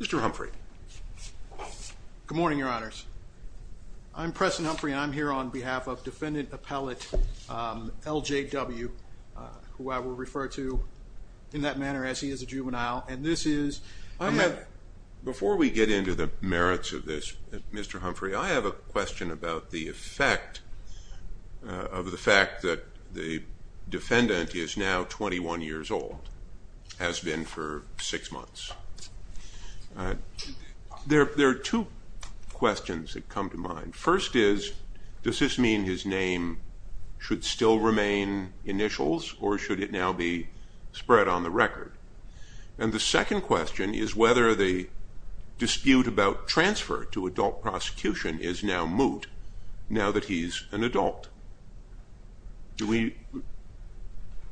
Mr. Humphrey. Good morning, your honors. I'm Preston Humphrey and I'm here on behalf of defendant appellate L. J. W. who I will refer to in that manner as he is a juvenile and this is... Before we get into the merits of this, Mr. Humphrey, I have a question about the effect of the fact that the defendant is now 21 years old, has been for six months. There are two questions that come to mind. First is, does this mean his name should still remain initials or should it now be spread on the record? And the second question is whether the dispute about transfer to adult prosecution is now moot now that he's an adult. The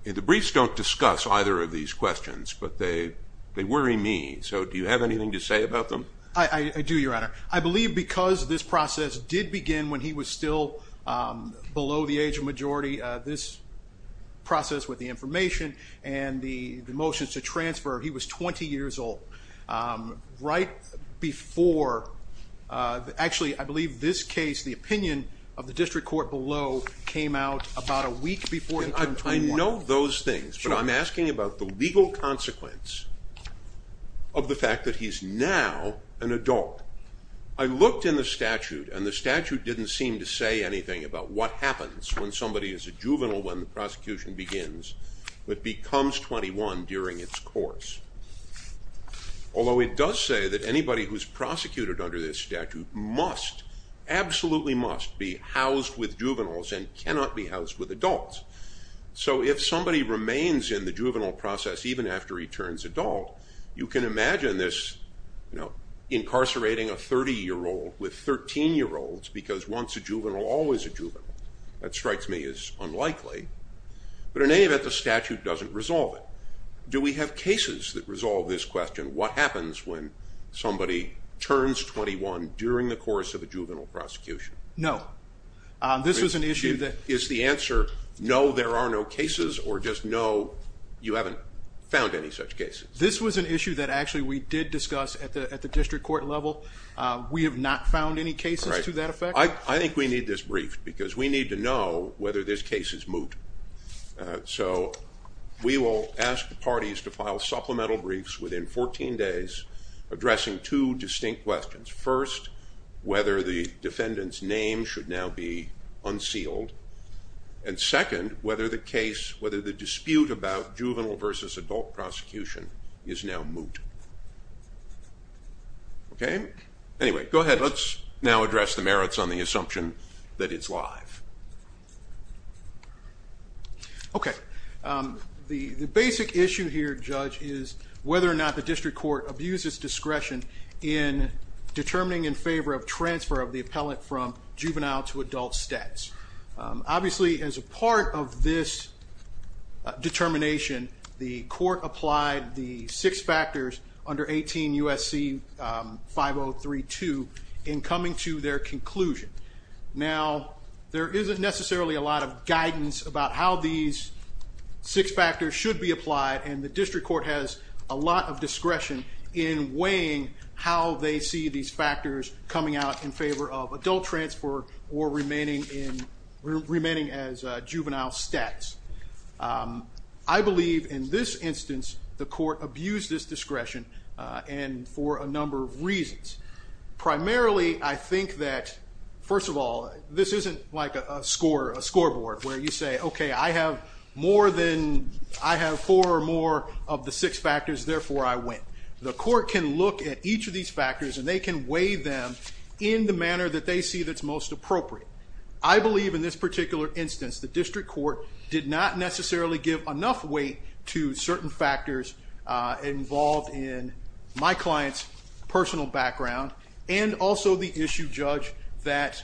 briefs don't discuss either of these questions, but they worry me. So do you have anything to say about them? I do, your honor. I believe because this process did begin when he was still below the age of majority, this process with the information and the motions to transfer, he was 20 years old, right before... Actually, I believe this case, the opinion of the district court below came out about a week before... I know those things, but I'm asking about the legal consequence of the fact that he's now an adult. I looked in the statute and the statute didn't seem to say anything about what happens when somebody is a juvenile when the prosecution begins, but becomes 21 during its course. Although it does say that anybody who's prosecuted under this statute must, absolutely must be housed with juveniles and cannot be housed with adults. So if somebody remains in the juvenile process even after he turns adult, you can imagine this incarcerating a 30-year-old with 13-year-olds because once a juvenile, always a juvenile. That strikes me as unlikely, but in any event, the statute doesn't resolve it. Do we have cases that resolve this question? What happens when somebody turns 21 during the course of a juvenile prosecution? No. This was an issue that... Is the answer, no, there are no cases or just no, you haven't found any such cases? This was an issue that actually we did discuss at the district court level. We have not found any cases to that effect? I think we need this brief because we need to know whether this case is moot. So we will ask the parties to file supplemental briefs within 14 days addressing two distinct questions. First, whether the defendant's name should now be unsealed, and second, whether the dispute about juvenile versus adult prosecution is now moot. Okay? Anyway, go ahead. Let's now address the merits on the assumption that it's live. Okay. The basic issue here, Judge, is whether or not the district court abuses discretion in determining in favor of transfer of the appellant from juvenile to adult status. Obviously, as a part of this determination, the court applied the six factors under 18 U.S.C. 5032 in coming to their conclusion. Now, there isn't necessarily a lot of guidance about how these six factors should be applied, and the district court has a lot of discretion in weighing how they see these factors coming out in favor of adult In this instance, the court abused this discretion for a number of reasons. Primarily, I think that, first of all, this isn't like a scoreboard where you say, okay, I have more than, I have four or more of the six factors, therefore I win. The court can look at each of these factors and they can weigh them in the manner that they see that's most appropriate. I believe in this particular instance, the district court did not necessarily give enough weight to certain factors involved in my client's personal background, and also the issue, Judge, that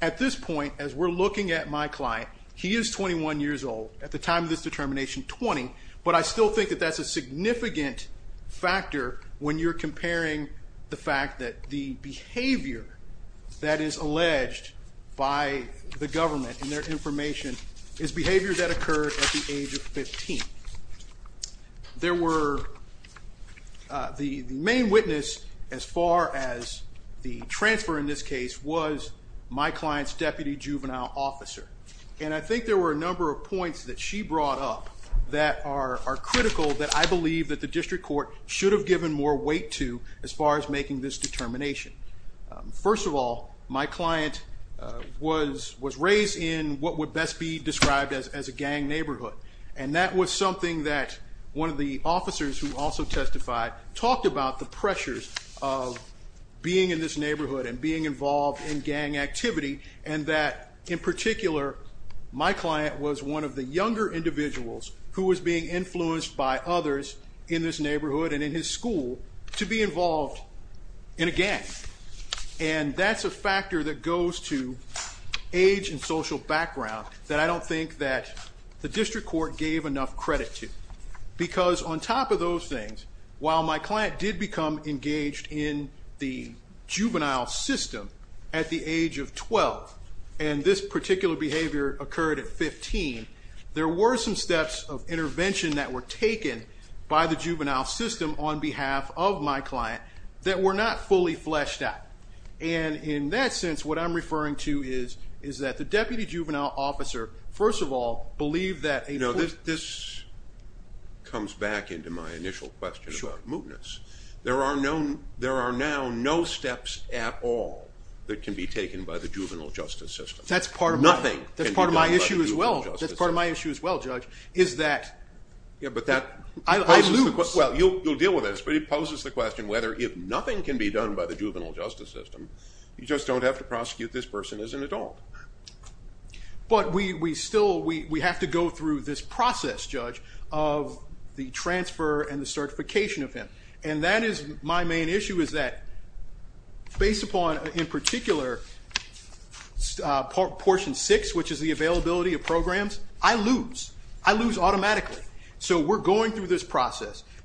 at this point, as we're looking at my client, he is 21 years old at the time of this determination, 20, but I still think that that's a significant factor when you're comparing the fact that the behavior that is alleged by the government and their information is behavior that occurred at the age of 15. There were, the main witness as far as the transfer in this case was my client's deputy juvenile officer, and I think there were a number of points that she brought up that are critical that I believe that the district court should have given more weight to as far as making this determination. First of all, my client was raised in what would best be described as a gang neighborhood, and that was something that one of the officers who also testified talked about the pressures of being in this neighborhood and being involved in gang activity, and that in particular, my client was one of the younger individuals who was being influenced by others in this neighborhood and in his school to be involved in a gang, and that's a factor that goes to age and social background that I don't think that the district court gave enough credit to, because on top of those things, while my client did become engaged in the juvenile system at the age of 12, and this particular behavior occurred at 15, there were some steps of intervention that were taken by the juvenile system on behalf of my client that were not fully fleshed out, and in that sense, what I'm referring to is that the deputy juvenile officer, first of all, believed that a... No, this comes back into my initial question about mootness. There are now no steps at all that can be taken by the juvenile justice system. Nothing can be done by the juvenile justice system. That's part of my issue as well, Judge, is that... Yeah, but that... I lose. Well, you'll deal with this, but it poses the question whether if nothing can be done by the juvenile justice system, you just don't have to prosecute this person as an adult. But we still, we have to go through this process, Judge, of the transfer and the certification of him, and that is my main issue, is that based upon, in particular, portion six, which is the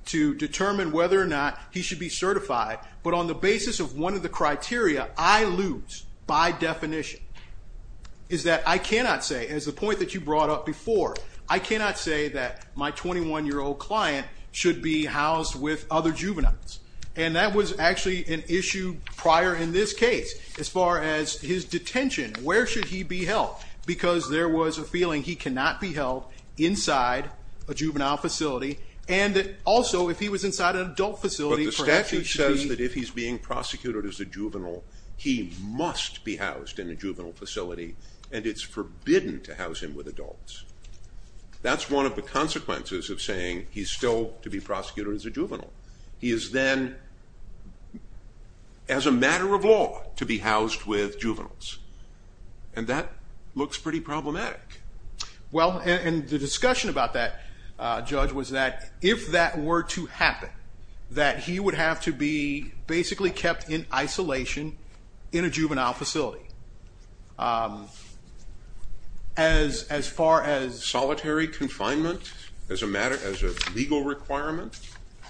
to determine whether or not he should be certified, but on the basis of one of the criteria, I lose by definition, is that I cannot say, as the point that you brought up before, I cannot say that my 21-year-old client should be housed with other juveniles, and that was actually an issue prior in this case, as far as his detention. Where should he be held? Because there was a feeling he cannot be held inside a juvenile facility, and that also, if he was inside an adult facility... But the statute says that if he's being prosecuted as a juvenile, he must be housed in a juvenile facility, and it's forbidden to house him with adults. That's one of the consequences of saying he's still to be prosecuted as a juvenile. He is then, as a matter of law, to be housed with juveniles, and that looks pretty problematic. Well, and the discussion about that, Judge, was that if that were to happen, that he would have to be basically kept in isolation in a juvenile facility. As far as... Solitary confinement, as a matter, as a legal requirement?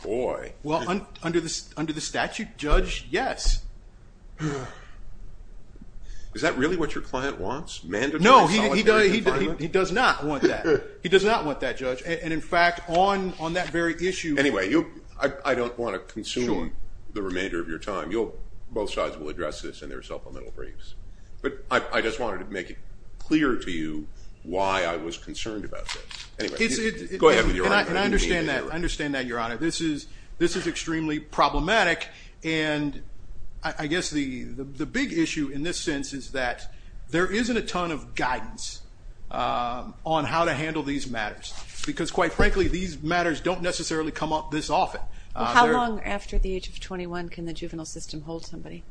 Boy. Well, under the statute, Judge, yes. No, he does not want that. He does not want that, Judge, and in fact, on that very issue... Anyway, I don't want to consume the remainder of your time. Both sides will address this in their supplemental briefs, but I just wanted to make it clear to you why I was concerned about this. Anyway, go ahead with your argument. I understand that, Your Honor. This is extremely problematic, and I guess the big issue in this sense is that there isn't a ton of guidance on how to handle these matters, because quite frankly, these matters don't necessarily come up this often. How long after the age of 21 can the juvenile system hold somebody?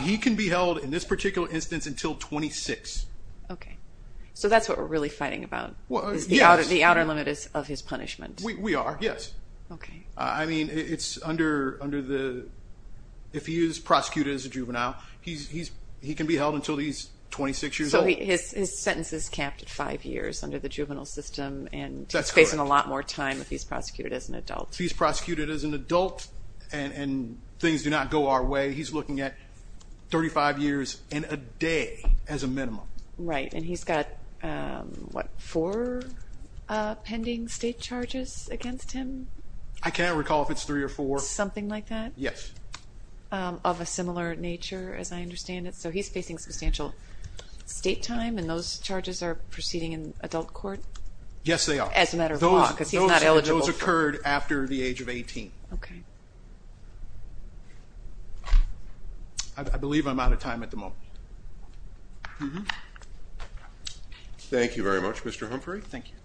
He can be held, in this particular instance, until 26. Okay. So that's what we're really fighting about, is the outer limit of his punishment. We are, yes. I mean, if he is prosecuted as a juvenile, he can be held until he's 26 years old. His sentence is capped at five years under the juvenile system, and he's facing a lot more time if he's prosecuted as an adult. If he's prosecuted as an adult and things do not go our way, he's looking at 35 years and a day as a minimum. Right. And he's got, what, four pending state charges against him? I can't recall if it's three or four. Something like that? Yes. Of a similar nature, as I understand it. So he's facing substantial state time, and those charges are proceeding in adult court? Yes, they are. As a matter of law, because he's not eligible. Those occurred after the age of 18. Okay. I believe I'm out of time at the moment. Okay. Thank you very much, Mr. Humphrey. Thank you.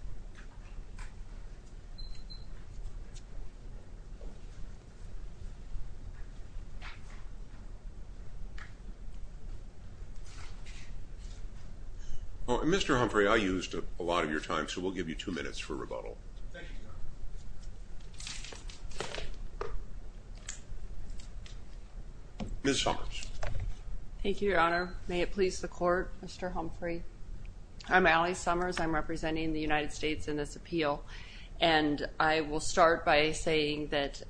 All right, Mr. Humphrey, I used a lot of your time, so we'll give you two minutes for rebuttal. Thank you, Your Honor. Ms. Summers. Thank you, Your Honor. May it please the court, Mr. Humphrey. I'm Allie Summers. I'm representing the United States in this appeal, and I will start by saying that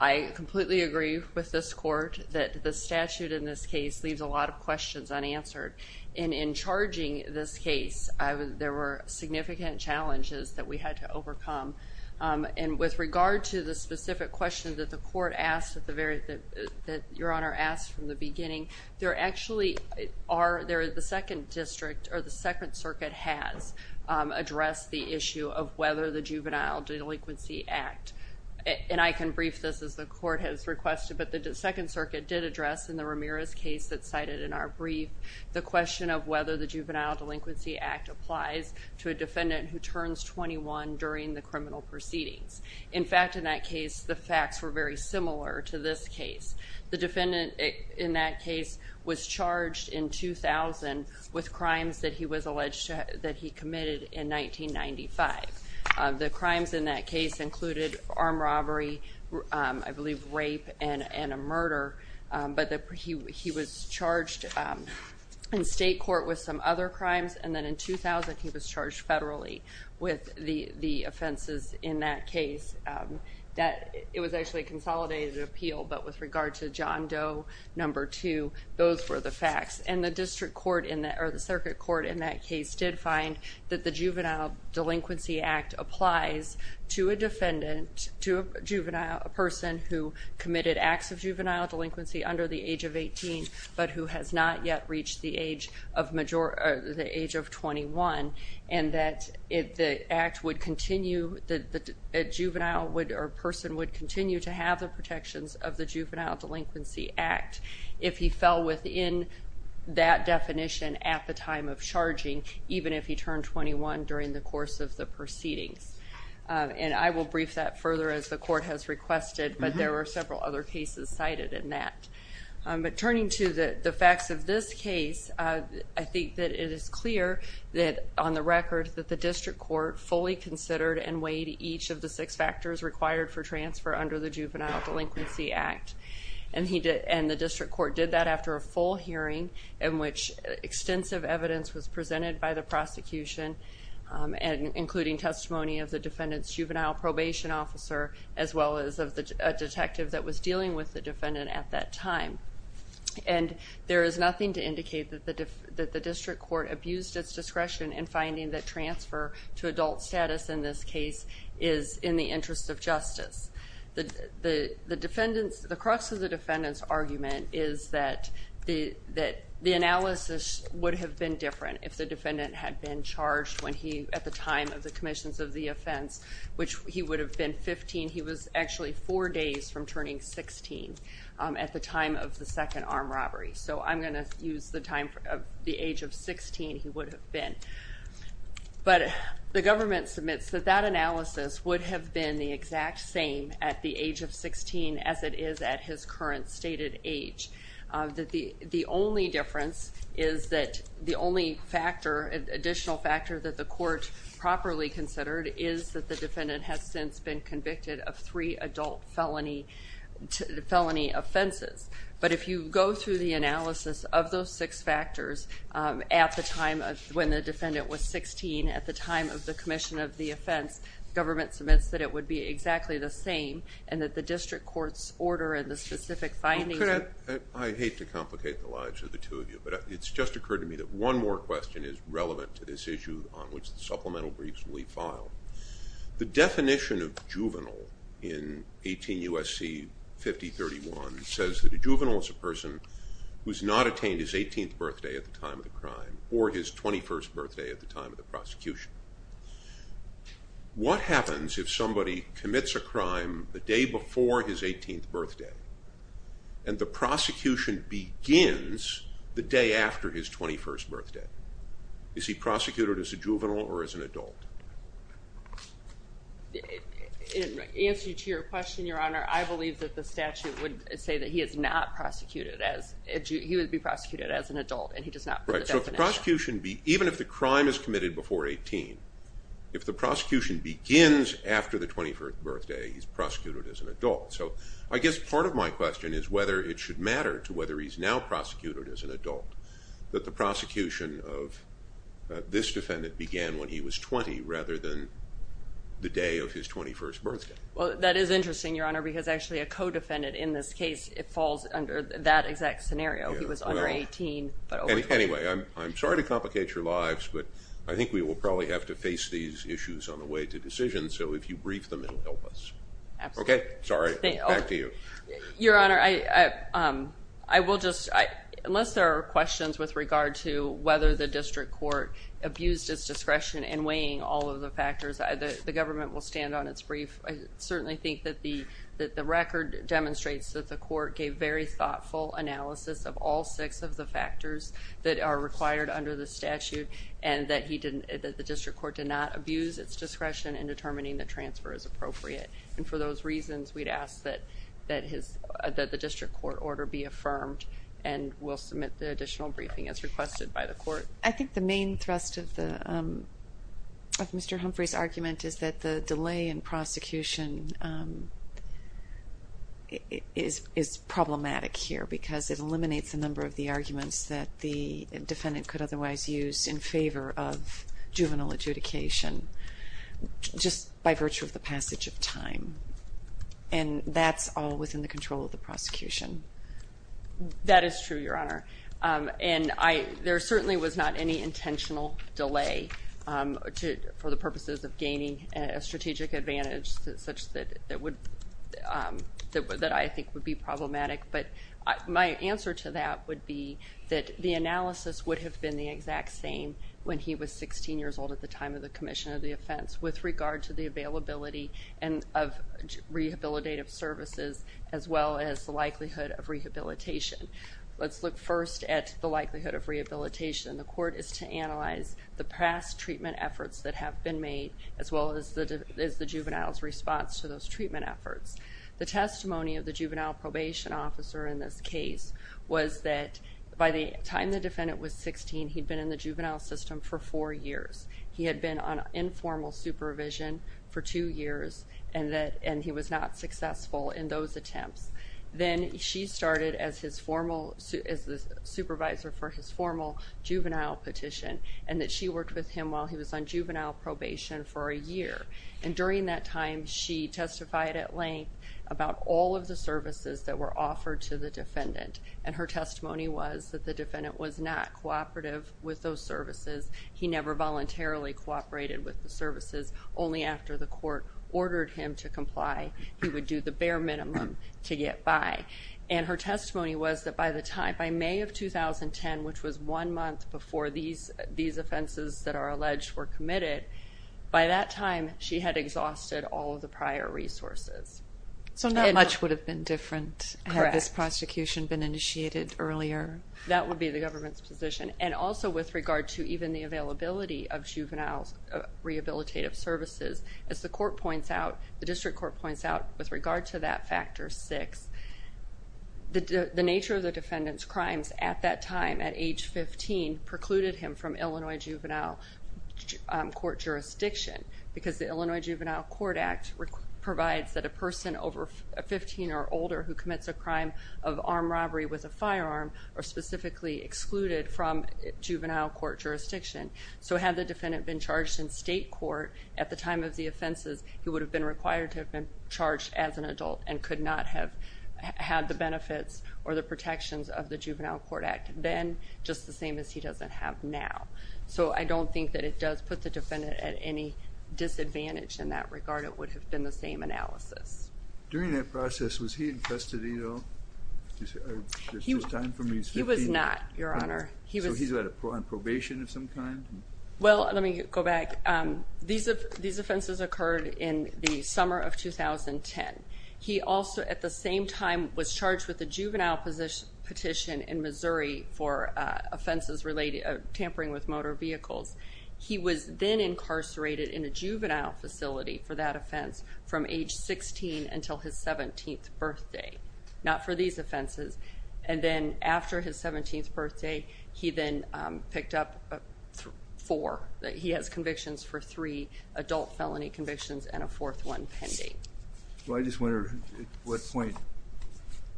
I completely agree with this court that the statute in this case leaves a lot of questions unanswered. And in charging this case, there were significant challenges that we had to overcome. And with regard to the specific question that the court asked, that Your Honor asked from the beginning, there actually are, there is the Second District or the Second Circuit has addressed the issue of whether the Juvenile Delinquency Act, and I can brief this as the court has requested, but the Second Circuit did address in the Ramirez case that's cited in our brief, the question of whether the Juvenile Delinquency Act applies to a defendant who turns 21 during the criminal proceedings. In fact, in that case, the facts were very similar to this case. The defendant in that case was charged in 2000 with crimes that he was alleged to, that he committed in 1995. The crimes in that case included armed robbery, I believe rape and a murder, but he was charged in state court with some other crimes, and then in 2000, he was charged federally with the offenses in that case. That, it was actually a consolidated appeal, but with regard to John Doe, number two, those were the facts. And the district court, or the circuit court in that case did find that the Juvenile Delinquency Act applies to a defendant, to a juvenile, a person who committed acts of juvenile delinquency under the age of 18, but who has not yet reached the age of 21. And that the act would continue, the juvenile would, or person would continue to have the protections of the Juvenile Delinquency Act if he fell within that definition at the time of charging, even if he turned 21 during the course of the proceedings. And I will brief that further as the court has requested, but there were several other cases cited in that. But turning to the facts of this case, I think that it is clear that on the record that the district court fully considered and weighed each of the six factors required for transfer under the Juvenile Delinquency Act. And the district court did that after a full hearing in which extensive evidence was presented by the prosecution, including testimony of the defendant's juvenile probation officer, as well as of a detective that was dealing with the defendant at that time. And there is nothing to indicate that the district court abused its discretion in finding that transfer to adult status in this case is in the interest of justice. The crux of the defendant's argument is that the analysis would have been different if the defendant had been charged when he, at the time of the commissions of the offense, which he would have been 15, he was actually four days from turning 16 at the time of the second armed robbery. So I'm going to use the time of the age of 16 he would have been. But the government submits that that analysis would have been the exact same at the age of 16 as it is at his current stated age. That the only difference is that the only factor, additional factor that the court properly considered is that the defendant has since been convicted of three adult felony offenses. But if you go through the analysis of those six factors, at the time of when the defendant was 16, at the time of the commission of the offense, government submits that it would be exactly the same and that the district court's order and the specific findings... Well, could I... I hate to complicate the lives of the two of you, but it's just occurred to me that one more question is relevant to this issue on which the supplemental briefs will be filed. The definition of juvenile in 18 U.S.C. 5031 says that a juvenile is a person who has not attained his 18th birthday at the time of the crime or his 21st birthday at the time of the prosecution. What happens if somebody commits a crime the day before his 18th birthday and the prosecution begins the day after his 21st birthday? Is he prosecuted as a juvenile or as an adult? In answer to your question, Your Honor, I believe that the statute would say that he is not prosecuted as... He would be prosecuted as an adult and he does not... Right, so if the prosecution be... Even if the crime is committed before 18, if the prosecution begins after the 21st birthday, he's prosecuted as an adult. So I guess part of my question is whether it should matter to whether he's now prosecuted as an adult that the prosecution of this defendant began when he was 20 rather than the day of his 21st birthday. Well, that is interesting, Your Honor, because actually a co-defendant in this case, it falls under that exact scenario. He was under 18, but over 20. Anyway, I'm sorry to complicate your lives, but I think we will probably have to face these issues on the way to decision. So if you brief them, it'll help us. Okay, sorry. Back to you. Your Honor, I will just... With regard to whether the district court abused its discretion in weighing all of the factors, the government will stand on its brief. I certainly think that the record demonstrates that the court gave very thoughtful analysis of all six of the factors that are required under the statute and that the district court did not abuse its discretion in determining the transfer as appropriate. And for those reasons, we'd ask that the district court order be affirmed and we'll submit the additional briefing as requested by the court. I think the main thrust of Mr. Humphrey's argument is that the delay in prosecution is problematic here because it eliminates a number of the arguments that the defendant could otherwise use in favor of juvenile adjudication just by virtue of the passage of time. And that's all within the control of the prosecution. That is true, Your Honor. And there certainly was not any intentional delay for the purposes of gaining a strategic advantage such that I think would be problematic. But my answer to that would be that the analysis would have been the exact same when he was 16 years old at the time of the commission of the offense with regard to the availability of rehabilitative services as well as the likelihood of rehabilitation. Let's look first at the likelihood of rehabilitation. The court is to analyze the past treatment efforts that have been made as well as the juvenile's response to those treatment efforts. The testimony of the juvenile probation officer in this case was that by the time the defendant was 16, he'd been in the juvenile system for four years. He had been on informal supervision for two years and he was not successful in those attempts. Then she started as the supervisor for his formal juvenile petition and that she worked with him while he was on juvenile probation for a year. And during that time, she testified at length about all of the services that were offered to the defendant. And her testimony was that the defendant was not cooperative with those services. He never voluntarily cooperated with the services. Only after the court ordered him to comply, he would do the bare minimum to get by. And her testimony was that by the time, by May of 2010, which was one month before these offenses that are alleged were committed, by that time, she had exhausted all of the prior resources. So not much would have been different had this prosecution been initiated earlier. That would be the government's position. And also with regard to even the availability of juvenile's rehabilitative services, as the court points out, the district court points out, with regard to that factor six, the nature of the defendant's crimes at that time at age 15 precluded him from Illinois juvenile court jurisdiction because the Illinois Juvenile Court Act provides that a person over 15 or older who commits a crime of armed robbery with a firearm are specifically excluded from juvenile court jurisdiction. So had the defendant been charged in state court at the time of the offenses, he would have been required to have been charged as an adult and could not have had the benefits or the protections of the Juvenile Court Act then just the same as he doesn't have now. So I don't think that it does put the defendant at any disadvantage in that regard. It would have been the same analysis. During that process, was he infested either? Is this time from he's 15? He was not, Your Honor. So he's on probation of some kind? Well, let me go back. These offenses occurred in the summer of 2010. He also, at the same time, was charged with a juvenile petition in Missouri for offenses related to tampering with motor vehicles. He was then incarcerated in a juvenile facility for that offense from age 16 until his 17th birthday, not for these offenses. And then after his 17th birthday, he then picked up four. He has convictions for three adult felony convictions and a fourth one pending. So I just wonder at what point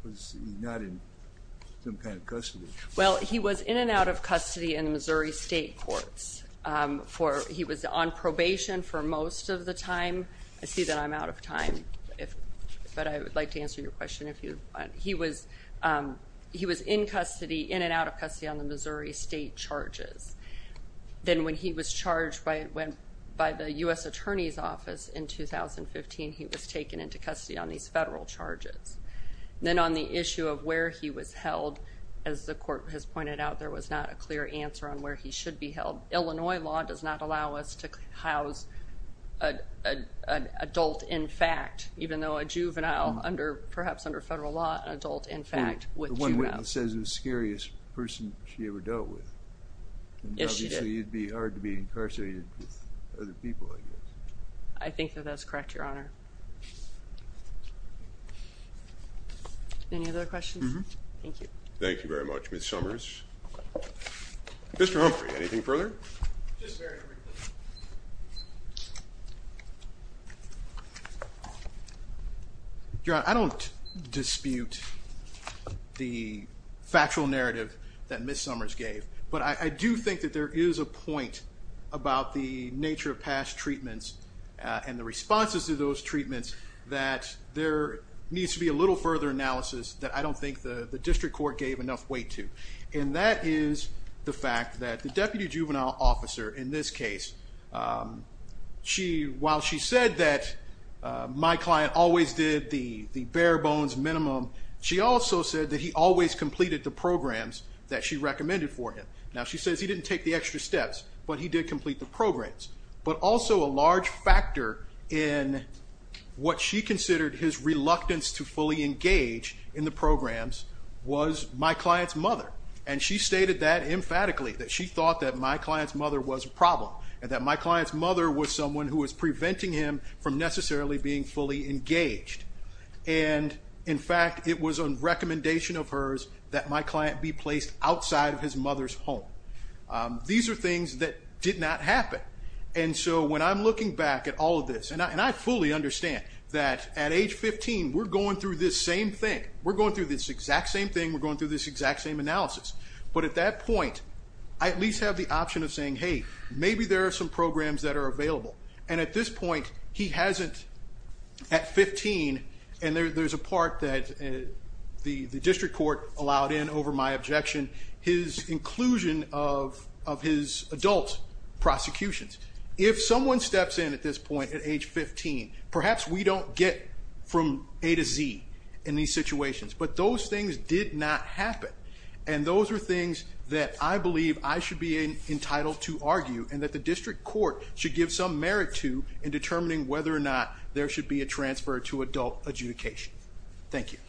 was he not in some kind of custody? Well, he was in and out of custody in the Missouri State Courts. He was on probation for most of the time. I see that I'm out of time, but I would like to answer your question if you want. He was in custody, in and out of custody, on the Missouri State charges. Then when he was charged by the U.S. Attorney's Office in 2015, he was taken into custody on these federal charges. Then on the issue of where he was held, as the court has pointed out, there was not a clear answer on where he should be held. Illinois law does not allow us to house an adult, in fact, even though a juvenile, perhaps under federal law, an adult, in fact, with juveniles. One witness says it was the scariest person she ever dealt with. Yes, she did. Obviously, it'd be hard to be incarcerated with other people, I guess. I think that that's correct, Your Honor. Any other questions? Mm-hmm. Thank you. Thank you very much, Ms. Summers. Mr. Humphrey, anything further? Just very briefly. Your Honor, I don't dispute the factual narrative that Ms. Summers gave, but I do think that there is a point about the nature of past treatments and the responses to those treatments that there needs to be a little further analysis that I don't think the district court gave enough weight to. And that is the fact that the Deputy Juvenile Officer, in this case, while she said that my client always did the bare bones minimum, she also said that he always completed the programs that she recommended for him. Now, she says he didn't take the extra steps, but he did complete the programs. But also, a large factor in what she considered his reluctance to fully engage in the programs was my client's mother. And she stated that emphatically, that she thought that my client's mother was a problem. That my client's mother was someone who was preventing him from necessarily being fully engaged. And in fact, it was a recommendation of hers that my client be placed outside of his mother's home. These are things that did not happen. And so, when I'm looking back at all of this, and I fully understand that at age 15, we're going through this same thing. We're going through this exact same thing. We're going through this exact same analysis. But at that point, I at least have the option of saying, hey, maybe there are some programs that are available. And at this point, he hasn't, at 15, and there's a part that the district court allowed in over my objection, his inclusion of his adult prosecutions. If someone steps in at this point at age 15, perhaps we don't get from A to Z in these situations. But those things did not happen. And those are things that I believe I should be entitled to argue, and that the district court should give some merit to in determining whether or not there should be a transfer to adult adjudication. Thank you.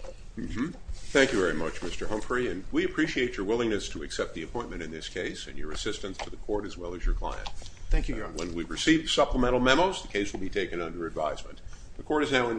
Thank you very much, Mr. Humphrey. And we appreciate your willingness to accept the appointment in this case, and your assistance to the court, as well as your client. Thank you, Your Honor. When we've received supplemental memos, the case will be taken under advisement. The court is now in recess.